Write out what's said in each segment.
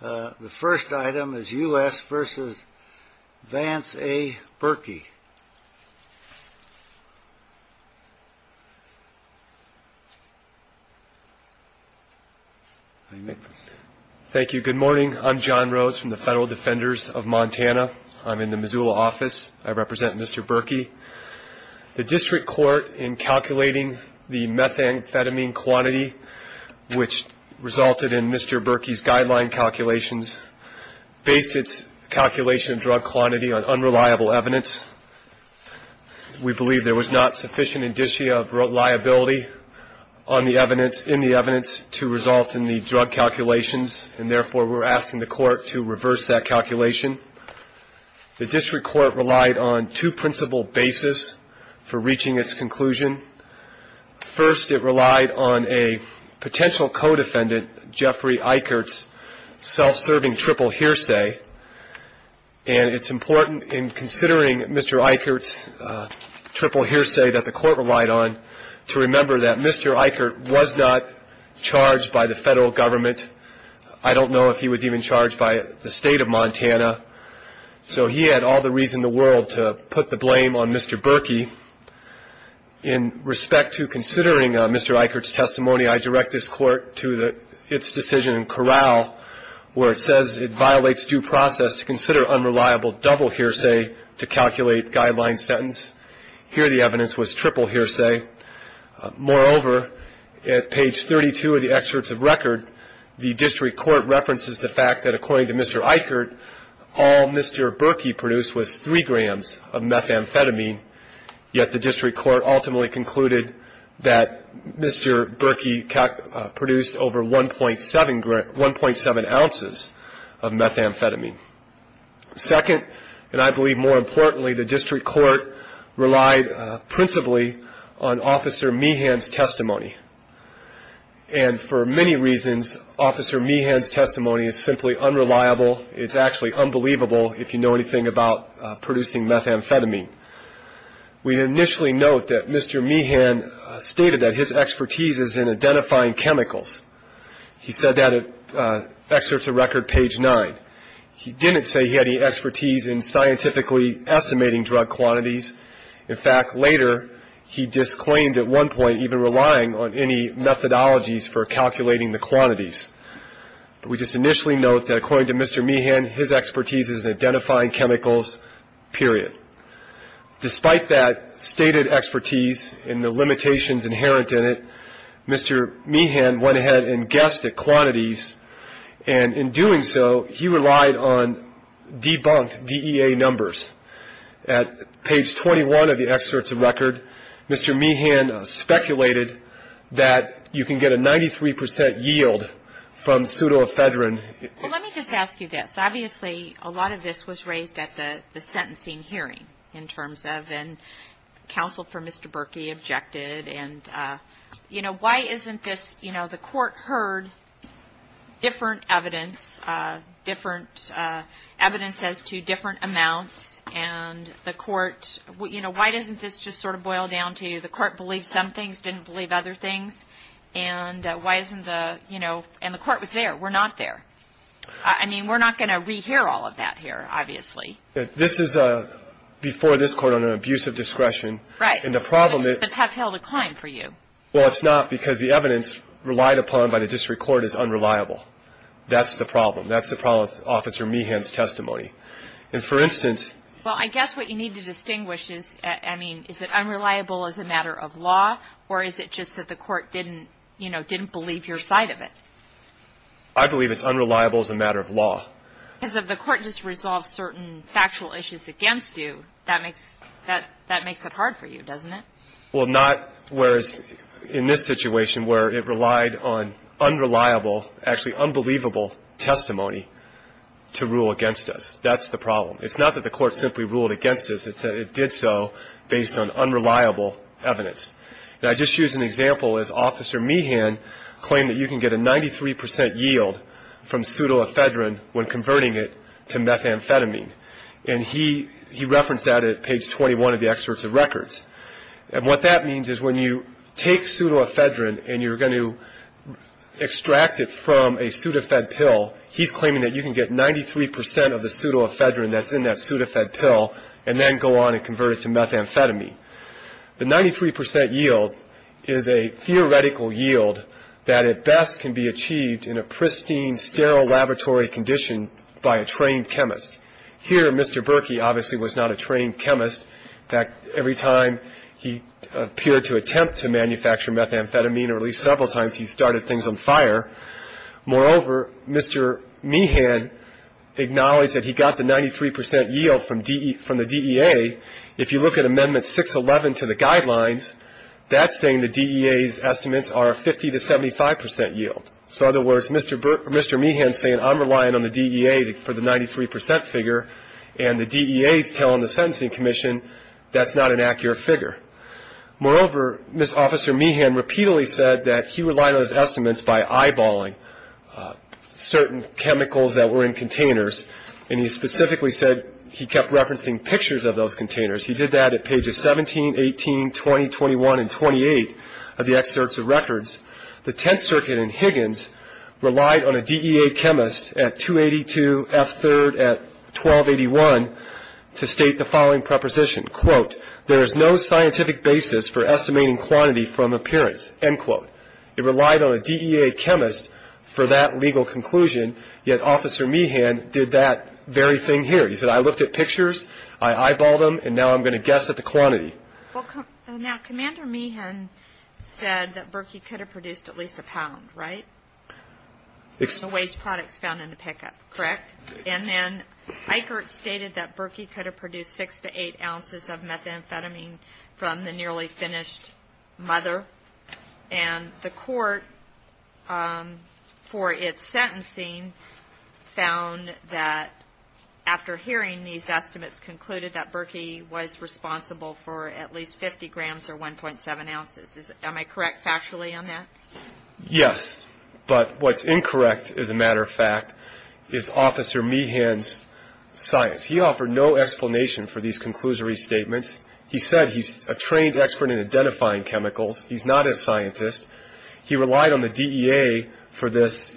The first item is U.S. v. Vance A. Birky. Thank you. Good morning. I'm John Rhodes from the Federal Defenders of Montana. I'm in the Missoula office. I represent Mr. Birky. The district court in calculating the methamphetamine quantity, which resulted in Mr. Birky's guideline calculations, based its calculation of drug quantity on unreliable evidence. We believe there was not sufficient indicia of reliability in the evidence to result in the drug calculations, and therefore we're asking the court to reverse that calculation. The district court relied on two principal basis for reaching its conclusion. First, it relied on a potential co-defendant, Jeffrey Eichert's self-serving triple hearsay, and it's important in considering Mr. Eichert's triple hearsay that the court relied on to remember that Mr. Eichert was not charged by the federal government. I don't know if he was even charged by the state of Montana. So he had all the reason in the world to put the blame on Mr. Birky. In respect to considering Mr. Eichert's testimony, I direct this court to its decision in Corral, where it says it violates due process to consider unreliable double hearsay to calculate guideline sentence. Here the evidence was triple hearsay. Moreover, at page 32 of the excerpts of record, the district court references the fact that according to Mr. Eichert, all Mr. Birky produced was three grams of methamphetamine, yet the district court ultimately concluded that Mr. Birky produced over 1.7 ounces of methamphetamine. Second, and I believe more importantly, the district court relied principally on Officer Meehan's testimony, and for many reasons Officer Meehan's testimony is simply unreliable. It's actually unbelievable if you know anything about producing methamphetamine. We initially note that Mr. Meehan stated that his expertise is in identifying chemicals. He said that at excerpts of record page nine. He didn't say he had any expertise in scientifically estimating drug quantities. In fact, later he disclaimed at one point even relying on any methodologies for calculating the quantities. We just initially note that according to Mr. Meehan, his expertise is in identifying chemicals, period. Despite that stated expertise and the limitations inherent in it, Mr. Meehan went ahead and guessed at quantities, and in doing so he relied on debunked DEA numbers. At page 21 of the excerpts of record, Mr. Meehan speculated that you can get a 93 percent yield from pseudoephedrine. Well, let me just ask you this. Obviously, a lot of this was raised at the sentencing hearing in terms of, and counsel for Mr. Berkey objected, and, you know, why isn't this, you know, the court heard different evidence, different evidence as to different amounts, and the court, you know, why doesn't this just sort of boil down to the court believed some things, didn't believe other things, and why isn't the, you know, and the court was there. We're not there. I mean, we're not going to rehear all of that here, obviously. This is before this court on an abuse of discretion. Right. And the problem is. It's a tough hill to climb for you. Well, it's not because the evidence relied upon by the district court is unreliable. That's the problem. That's the problem with Officer Meehan's testimony. And for instance. Well, I guess what you need to distinguish is, I mean, is it unreliable as a matter of law, or is it just that the court didn't, you know, didn't believe your side of it? I believe it's unreliable as a matter of law. Because if the court just resolves certain factual issues against you, that makes it hard for you, doesn't it? Well, not whereas in this situation where it relied on unreliable, actually unbelievable testimony to rule against us. That's the problem. It's not that the court simply ruled against us. It's that it did so based on unreliable evidence. And I just used an example as Officer Meehan claimed that you can get a 93% yield from pseudoephedrine when converting it to methamphetamine. And he referenced that at page 21 of the excerpts of records. And what that means is when you take pseudoephedrine and you're going to extract it from a pseudoephed pill, he's claiming that you can get 93% of the pseudoephedrine that's in that pseudoephed pill and then go on and convert it to methamphetamine. The 93% yield is a theoretical yield that at best can be achieved in a pristine, sterile laboratory condition by a trained chemist. Here, Mr. Berkey obviously was not a trained chemist. In fact, every time he appeared to attempt to manufacture methamphetamine, or at least several times he started things on fire. Moreover, Mr. Meehan acknowledged that he got the 93% yield from the DEA. If you look at Amendment 611 to the guidelines, that's saying the DEA's estimates are a 50% to 75% yield. So in other words, Mr. Meehan is saying I'm relying on the DEA for the 93% figure, and the DEA is telling the Sentencing Commission that's not an accurate figure. Moreover, Mr. Officer Meehan repeatedly said that he relied on his estimates by eyeballing certain chemicals that were in containers, and he specifically said he kept referencing pictures of those containers. He did that at pages 17, 18, 20, 21, and 28 of the excerpts of records. The Tenth Circuit in Higgins relied on a DEA chemist at 282F3 at 1281 to state the following preposition, quote, there is no scientific basis for estimating quantity from appearance, end quote. It relied on a DEA chemist for that legal conclusion, yet Officer Meehan did that very thing here. He said I looked at pictures, I eyeballed them, and now I'm going to guess at the quantity. Now, Commander Meehan said that Berkey could have produced at least a pound, right? The waste products found in the pickup, correct? And then Eichert stated that Berkey could have produced 6 to 8 ounces of methamphetamine from the nearly finished mother, and the court, for its sentencing, found that after hearing these estimates, concluded that Berkey was responsible for at least 50 grams or 1.7 ounces. Am I correct factually on that? Yes, but what's incorrect, as a matter of fact, is Officer Meehan's science. He offered no explanation for these conclusory statements. He said he's a trained expert in identifying chemicals. He's not a scientist. He relied on the DEA for this,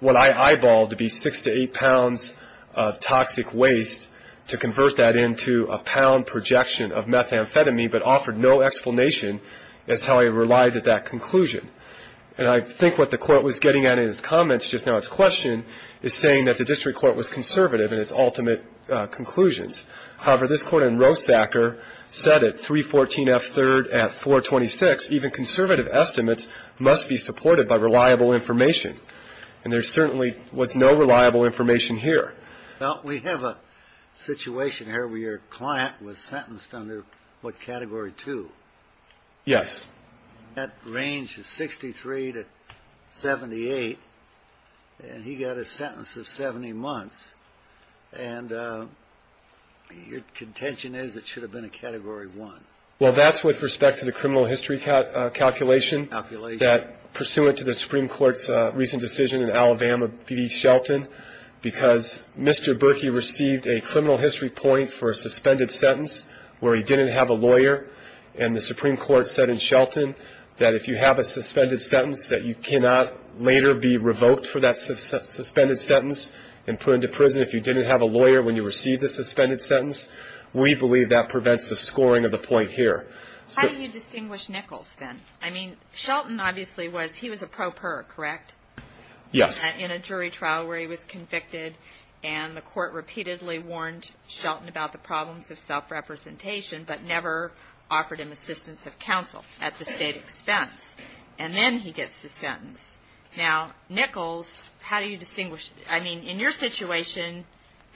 what I eyeballed to be 6 to 8 pounds of toxic waste to convert that into a pound projection of methamphetamine, but offered no explanation as to how he relied at that conclusion. And I think what the Court was getting at in its comments just now, its question, is saying that the district court was conservative in its ultimate conclusions. However, this Court in Rosacker said at 314 F. 3rd at 426, even conservative estimates must be supported by reliable information. And there certainly was no reliable information here. Well, we have a situation here where your client was sentenced under, what, Category 2. Yes. That range is 63 to 78, and he got a sentence of 70 months. And your contention is it should have been a Category 1. Well, that's with respect to the criminal history calculation that, pursuant to the Supreme Court's recent decision in Alabama, B.D. Shelton, because Mr. Berkey received a criminal history point for a suspended sentence where he didn't have a lawyer. And the Supreme Court said in Shelton that if you have a suspended sentence, that you cannot later be revoked for that suspended sentence and put into prison if you didn't have a lawyer when you received the suspended sentence. We believe that prevents the scoring of the point here. How do you distinguish Nichols, then? I mean, Shelton obviously was a pro per, correct? Yes. In a jury trial where he was convicted, and the court repeatedly warned Shelton about the problems of self-representation but never offered him assistance of counsel at the state expense. And then he gets the sentence. Now, Nichols, how do you distinguish? I mean, in your situation,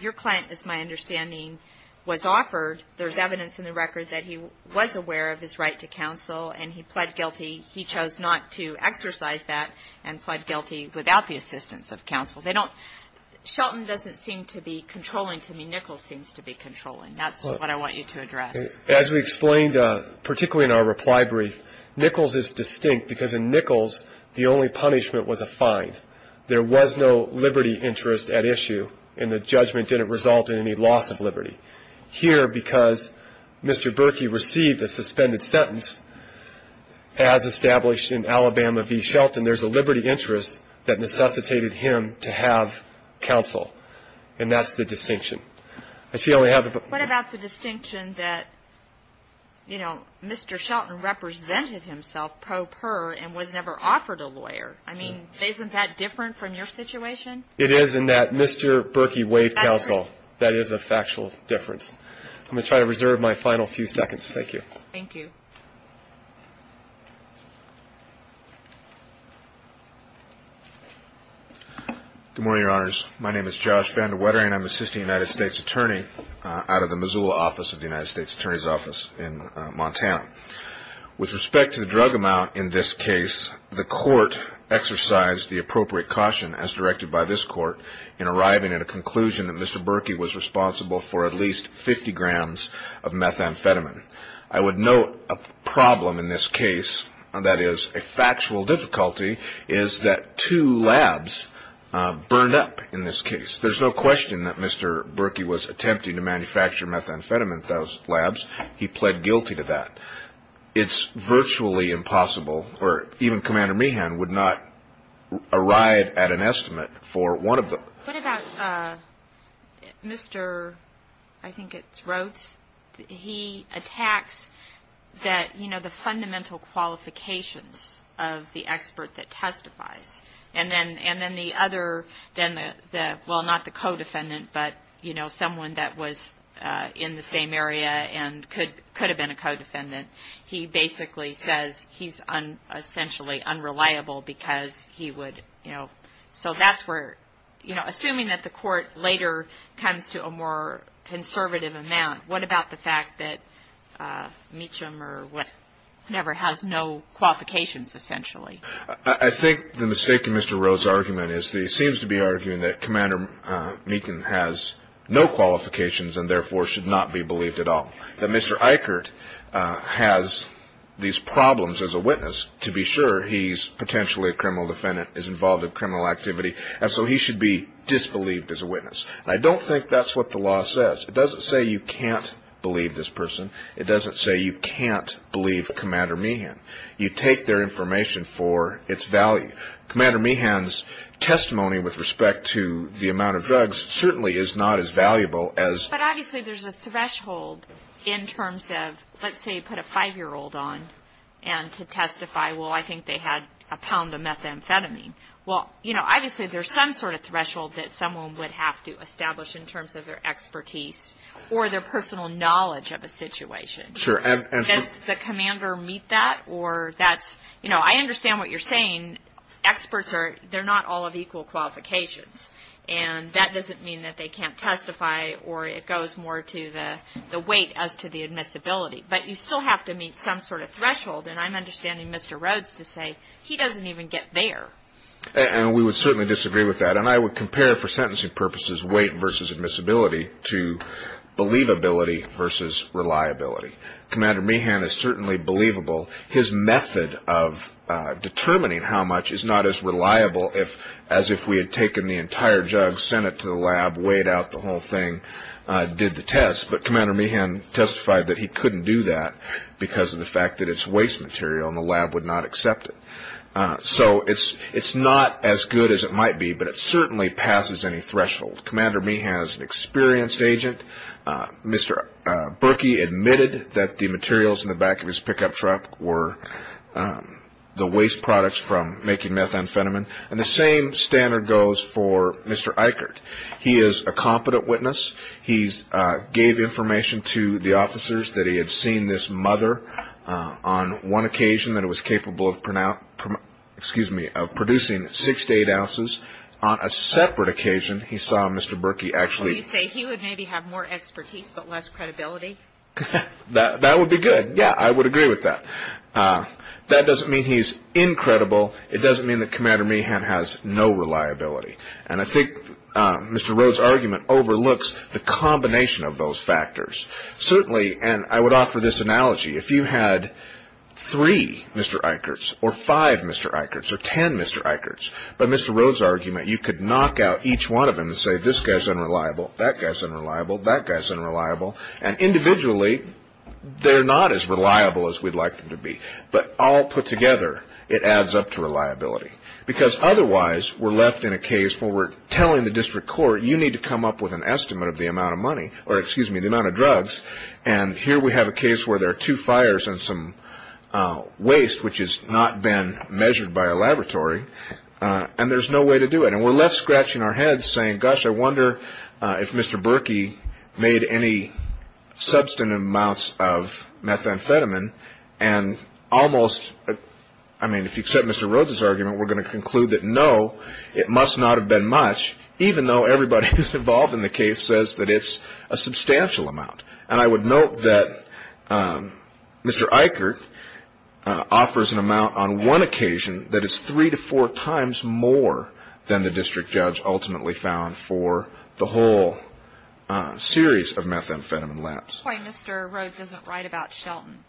your client, as my understanding, was offered. There's evidence in the record that he was aware of his right to counsel, and he pled guilty. He chose not to exercise that and pled guilty without the assistance of counsel. They don't – Shelton doesn't seem to be controlling to me. Nichols seems to be controlling. That's what I want you to address. As we explained, particularly in our reply brief, Nichols is distinct because in Nichols the only punishment was a fine. There was no liberty interest at issue, and the judgment didn't result in any loss of liberty. Here, because Mr. Berkey received a suspended sentence, as established in Alabama v. Shelton, there's a liberty interest that necessitated him to have counsel, and that's the distinction. What about the distinction that, you know, Mr. Shelton represented himself pro per and was never offered a lawyer? I mean, isn't that different from your situation? It is in that Mr. Berkey waived counsel. That is a factual difference. I'm going to try to reserve my final few seconds. Thank you. Thank you. Good morning, Your Honors. My name is Josh Vandewetter, and I'm an assistant United States attorney out of the Missoula office of the United States Attorney's Office in Montana. With respect to the drug amount in this case, the court exercised the appropriate caution, as directed by this court, in arriving at a conclusion that Mr. Berkey was responsible for at least 50 grams of methamphetamine. I would note a problem in this case, that is a factual difficulty, is that two labs burned up in this case. There's no question that Mr. Berkey was attempting to manufacture methamphetamine at those labs. He pled guilty to that. It's virtually impossible, or even Commander Meehan would not arrive at an estimate for one of them. What about Mr. I think it's Rhodes? He attacks that, you know, the fundamental qualifications of the expert that testifies. And then the other, well, not the co-defendant, but, you know, someone that was in the same area and could have been a co-defendant. He basically says he's essentially unreliable because he would, you know, so that's where, you know, assuming that the court later comes to a more conservative amount, what about the fact that Mecham or whatever has no qualifications, essentially? I think the mistake in Mr. Rhodes' argument is that he seems to be arguing that Commander Meehan has no qualifications and therefore should not be believed at all. That Mr. Eichert has these problems as a witness to be sure he's potentially a criminal defendant, is involved in criminal activity, and so he should be disbelieved as a witness. And I don't think that's what the law says. It doesn't say you can't believe this person. It doesn't say you can't believe Commander Meehan. You take their information for its value. Commander Meehan's testimony with respect to the amount of drugs certainly is not as valuable as... But obviously there's a threshold in terms of, let's say you put a 5-year-old on and to testify, well, I think they had a pound of methamphetamine. Well, you know, obviously there's some sort of threshold that someone would have to establish in terms of their expertise or their personal knowledge of a situation. Sure. Does the commander meet that or that's... You know, I understand what you're saying. Experts, they're not all of equal qualifications, and that doesn't mean that they can't testify or it goes more to the weight as to the admissibility. But you still have to meet some sort of threshold, and I'm understanding Mr. Rhodes to say he doesn't even get there. And we would certainly disagree with that, and I would compare for sentencing purposes weight versus admissibility to believability versus reliability. Commander Meehan is certainly believable. His method of determining how much is not as reliable as if we had taken the entire jug, sent it to the lab, weighed out the whole thing, did the test. But Commander Meehan testified that he couldn't do that because of the fact that it's waste material and the lab would not accept it. So it's not as good as it might be, but it certainly passes any threshold. Commander Meehan is an experienced agent. Mr. Berkey admitted that the materials in the back of his pickup truck were the waste products from making methamphetamine. And the same standard goes for Mr. Eichert. He is a competent witness. He gave information to the officers that he had seen this mother on one occasion that it was capable of producing six to eight ounces. On a separate occasion, he saw Mr. Berkey actually. So you say he would maybe have more expertise but less credibility? That would be good. Yeah, I would agree with that. That doesn't mean he's incredible. It doesn't mean that Commander Meehan has no reliability. And I think Mr. Rhodes' argument overlooks the combination of those factors. Certainly, and I would offer this analogy, if you had three Mr. Eicherts or five Mr. Eicherts or ten Mr. Eicherts, by Mr. Rhodes' argument, you could knock out each one of them and say, this guy's unreliable, that guy's unreliable, that guy's unreliable. And individually, they're not as reliable as we'd like them to be. But all put together, it adds up to reliability. Because otherwise, we're left in a case where we're telling the district court, you need to come up with an estimate of the amount of money or, excuse me, the amount of drugs. And here we have a case where there are two fires and some waste, which has not been measured by a laboratory. And there's no way to do it. And we're left scratching our heads saying, gosh, I wonder if Mr. Berkey made any substantive amounts of methamphetamine. And almost, I mean, if you accept Mr. Rhodes' argument, we're going to conclude that, no, it must not have been much, even though everybody involved in the case says that it's a substantial amount. And I would note that Mr. Eichert offers an amount on one occasion that is three to four times more than the district judge ultimately found for the whole series of methamphetamine labs. At this point, Mr. Rhodes doesn't write about Shelton.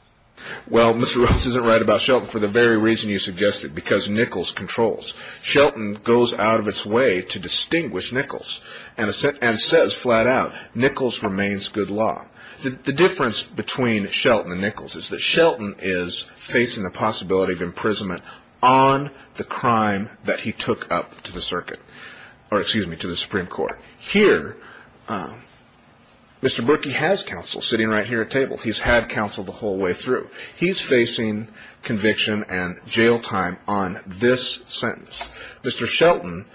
Well, Mr. Rhodes doesn't write about Shelton for the very reason you suggested, because Nichols controls. Shelton goes out of its way to distinguish Nichols and says flat out, Nichols remains good law. The difference between Shelton and Nichols is that Shelton is facing the possibility of imprisonment on the crime that he took up to the Supreme Court. Here, Mr. Berkey has counsel sitting right here at table. He's had counsel the whole way through. He's facing conviction and jail time on this sentence. Mr. Shelton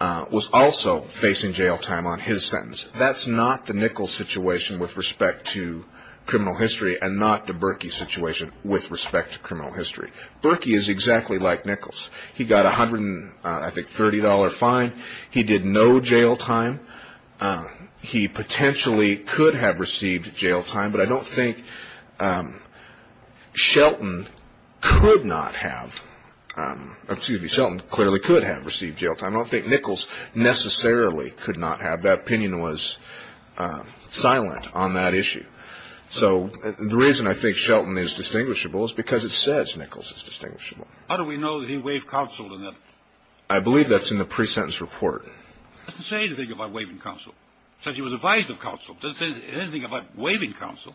was also facing jail time on his sentence. That's not the Nichols situation with respect to criminal history and not the Berkey situation with respect to criminal history. Berkey is exactly like Nichols. He got a $130 fine. He did no jail time. He potentially could have received jail time, but I don't think Shelton could not have. Excuse me, Shelton clearly could have received jail time. I don't think Nichols necessarily could not have. That opinion was silent on that issue. So the reason I think Shelton is distinguishable is because it says Nichols is distinguishable. How do we know that he waived counsel on that? I believe that's in the pre-sentence report. It doesn't say anything about waiving counsel. It says he was advised of counsel. It doesn't say anything about waiving counsel.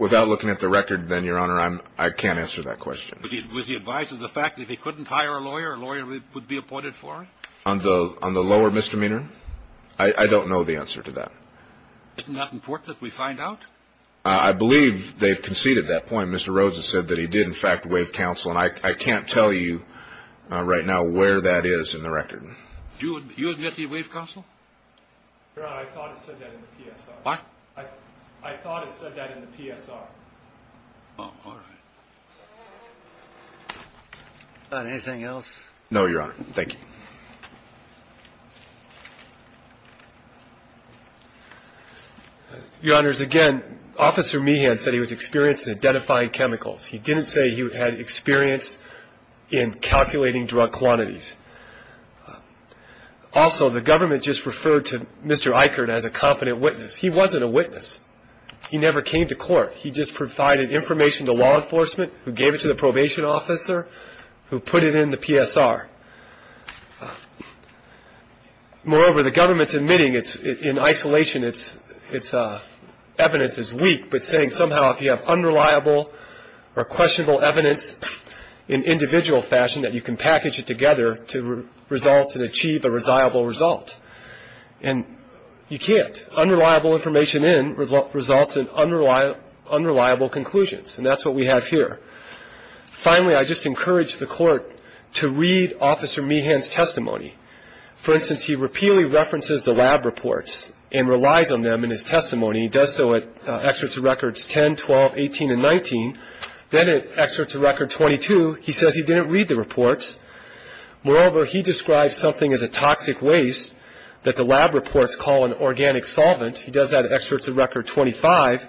Without looking at the record, then, Your Honor, I can't answer that question. Was he advised of the fact that if he couldn't hire a lawyer, a lawyer would be appointed for him? On the lower misdemeanor? I don't know the answer to that. Isn't that important that we find out? I believe they've conceded that point. Mr. Rhodes has said that he did, in fact, waive counsel, and I can't tell you right now where that is in the record. Do you admit he waived counsel? Your Honor, I thought it said that in the PSR. What? I thought it said that in the PSR. Oh, all right. Anything else? No, Your Honor. Thank you. Your Honors, again, Officer Meehan said he was experienced in identifying chemicals. He didn't say he had experience in calculating drug quantities. Also, the government just referred to Mr. Eichert as a confident witness. He wasn't a witness. He never came to court. He just provided information to law enforcement, who gave it to the probation officer, who put it in the PSR. Moreover, the government's admitting it's in isolation. Its evidence is weak, but saying somehow if you have unreliable or questionable evidence in individual fashion, that you can package it together to result and achieve a reliable result. And you can't. Unreliable information in results in unreliable conclusions, and that's what we have here. Finally, I just encourage the court to read Officer Meehan's testimony. For instance, he repeatedly references the lab reports and relies on them in his testimony. He does so at excerpts of records 10, 12, 18, and 19. Then at excerpts of record 22, he says he didn't read the reports. Moreover, he describes something as a toxic waste that the lab reports call an organic solvent. He does that at excerpts of record 25.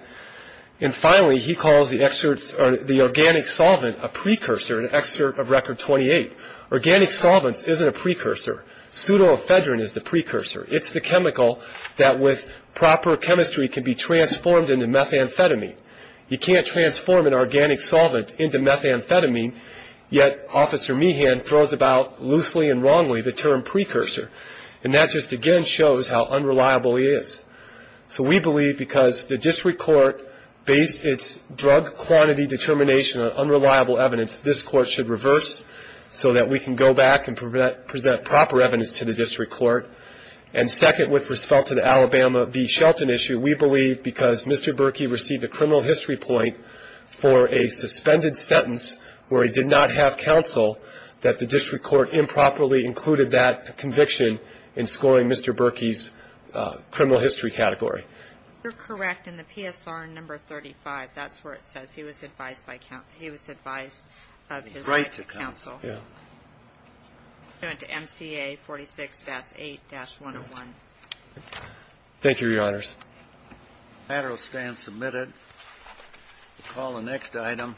And finally, he calls the organic solvent a precursor, an excerpt of record 28. Organic solvents isn't a precursor. Pseudoephedrine is the precursor. It's the chemical that with proper chemistry can be transformed into methamphetamine. You can't transform an organic solvent into methamphetamine, yet Officer Meehan throws about loosely and wrongly the term precursor, and that just again shows how unreliable he is. So we believe because the district court based its drug quantity determination on unreliable evidence, this court should reverse so that we can go back and present proper evidence to the district court. And second, with respect to the Alabama v. Shelton issue, we believe because Mr. Berkey received a criminal history point for a suspended sentence where he did not have counsel that the district court improperly included that conviction in scoring Mr. Berkey's criminal history category. You're correct. In the PSR number 35, that's where it says he was advised by counsel. He was advised of his right to counsel. Yeah. It went to MCA 46-8-101. Thank you, Your Honors. The matter will stand submitted. We'll call the next item.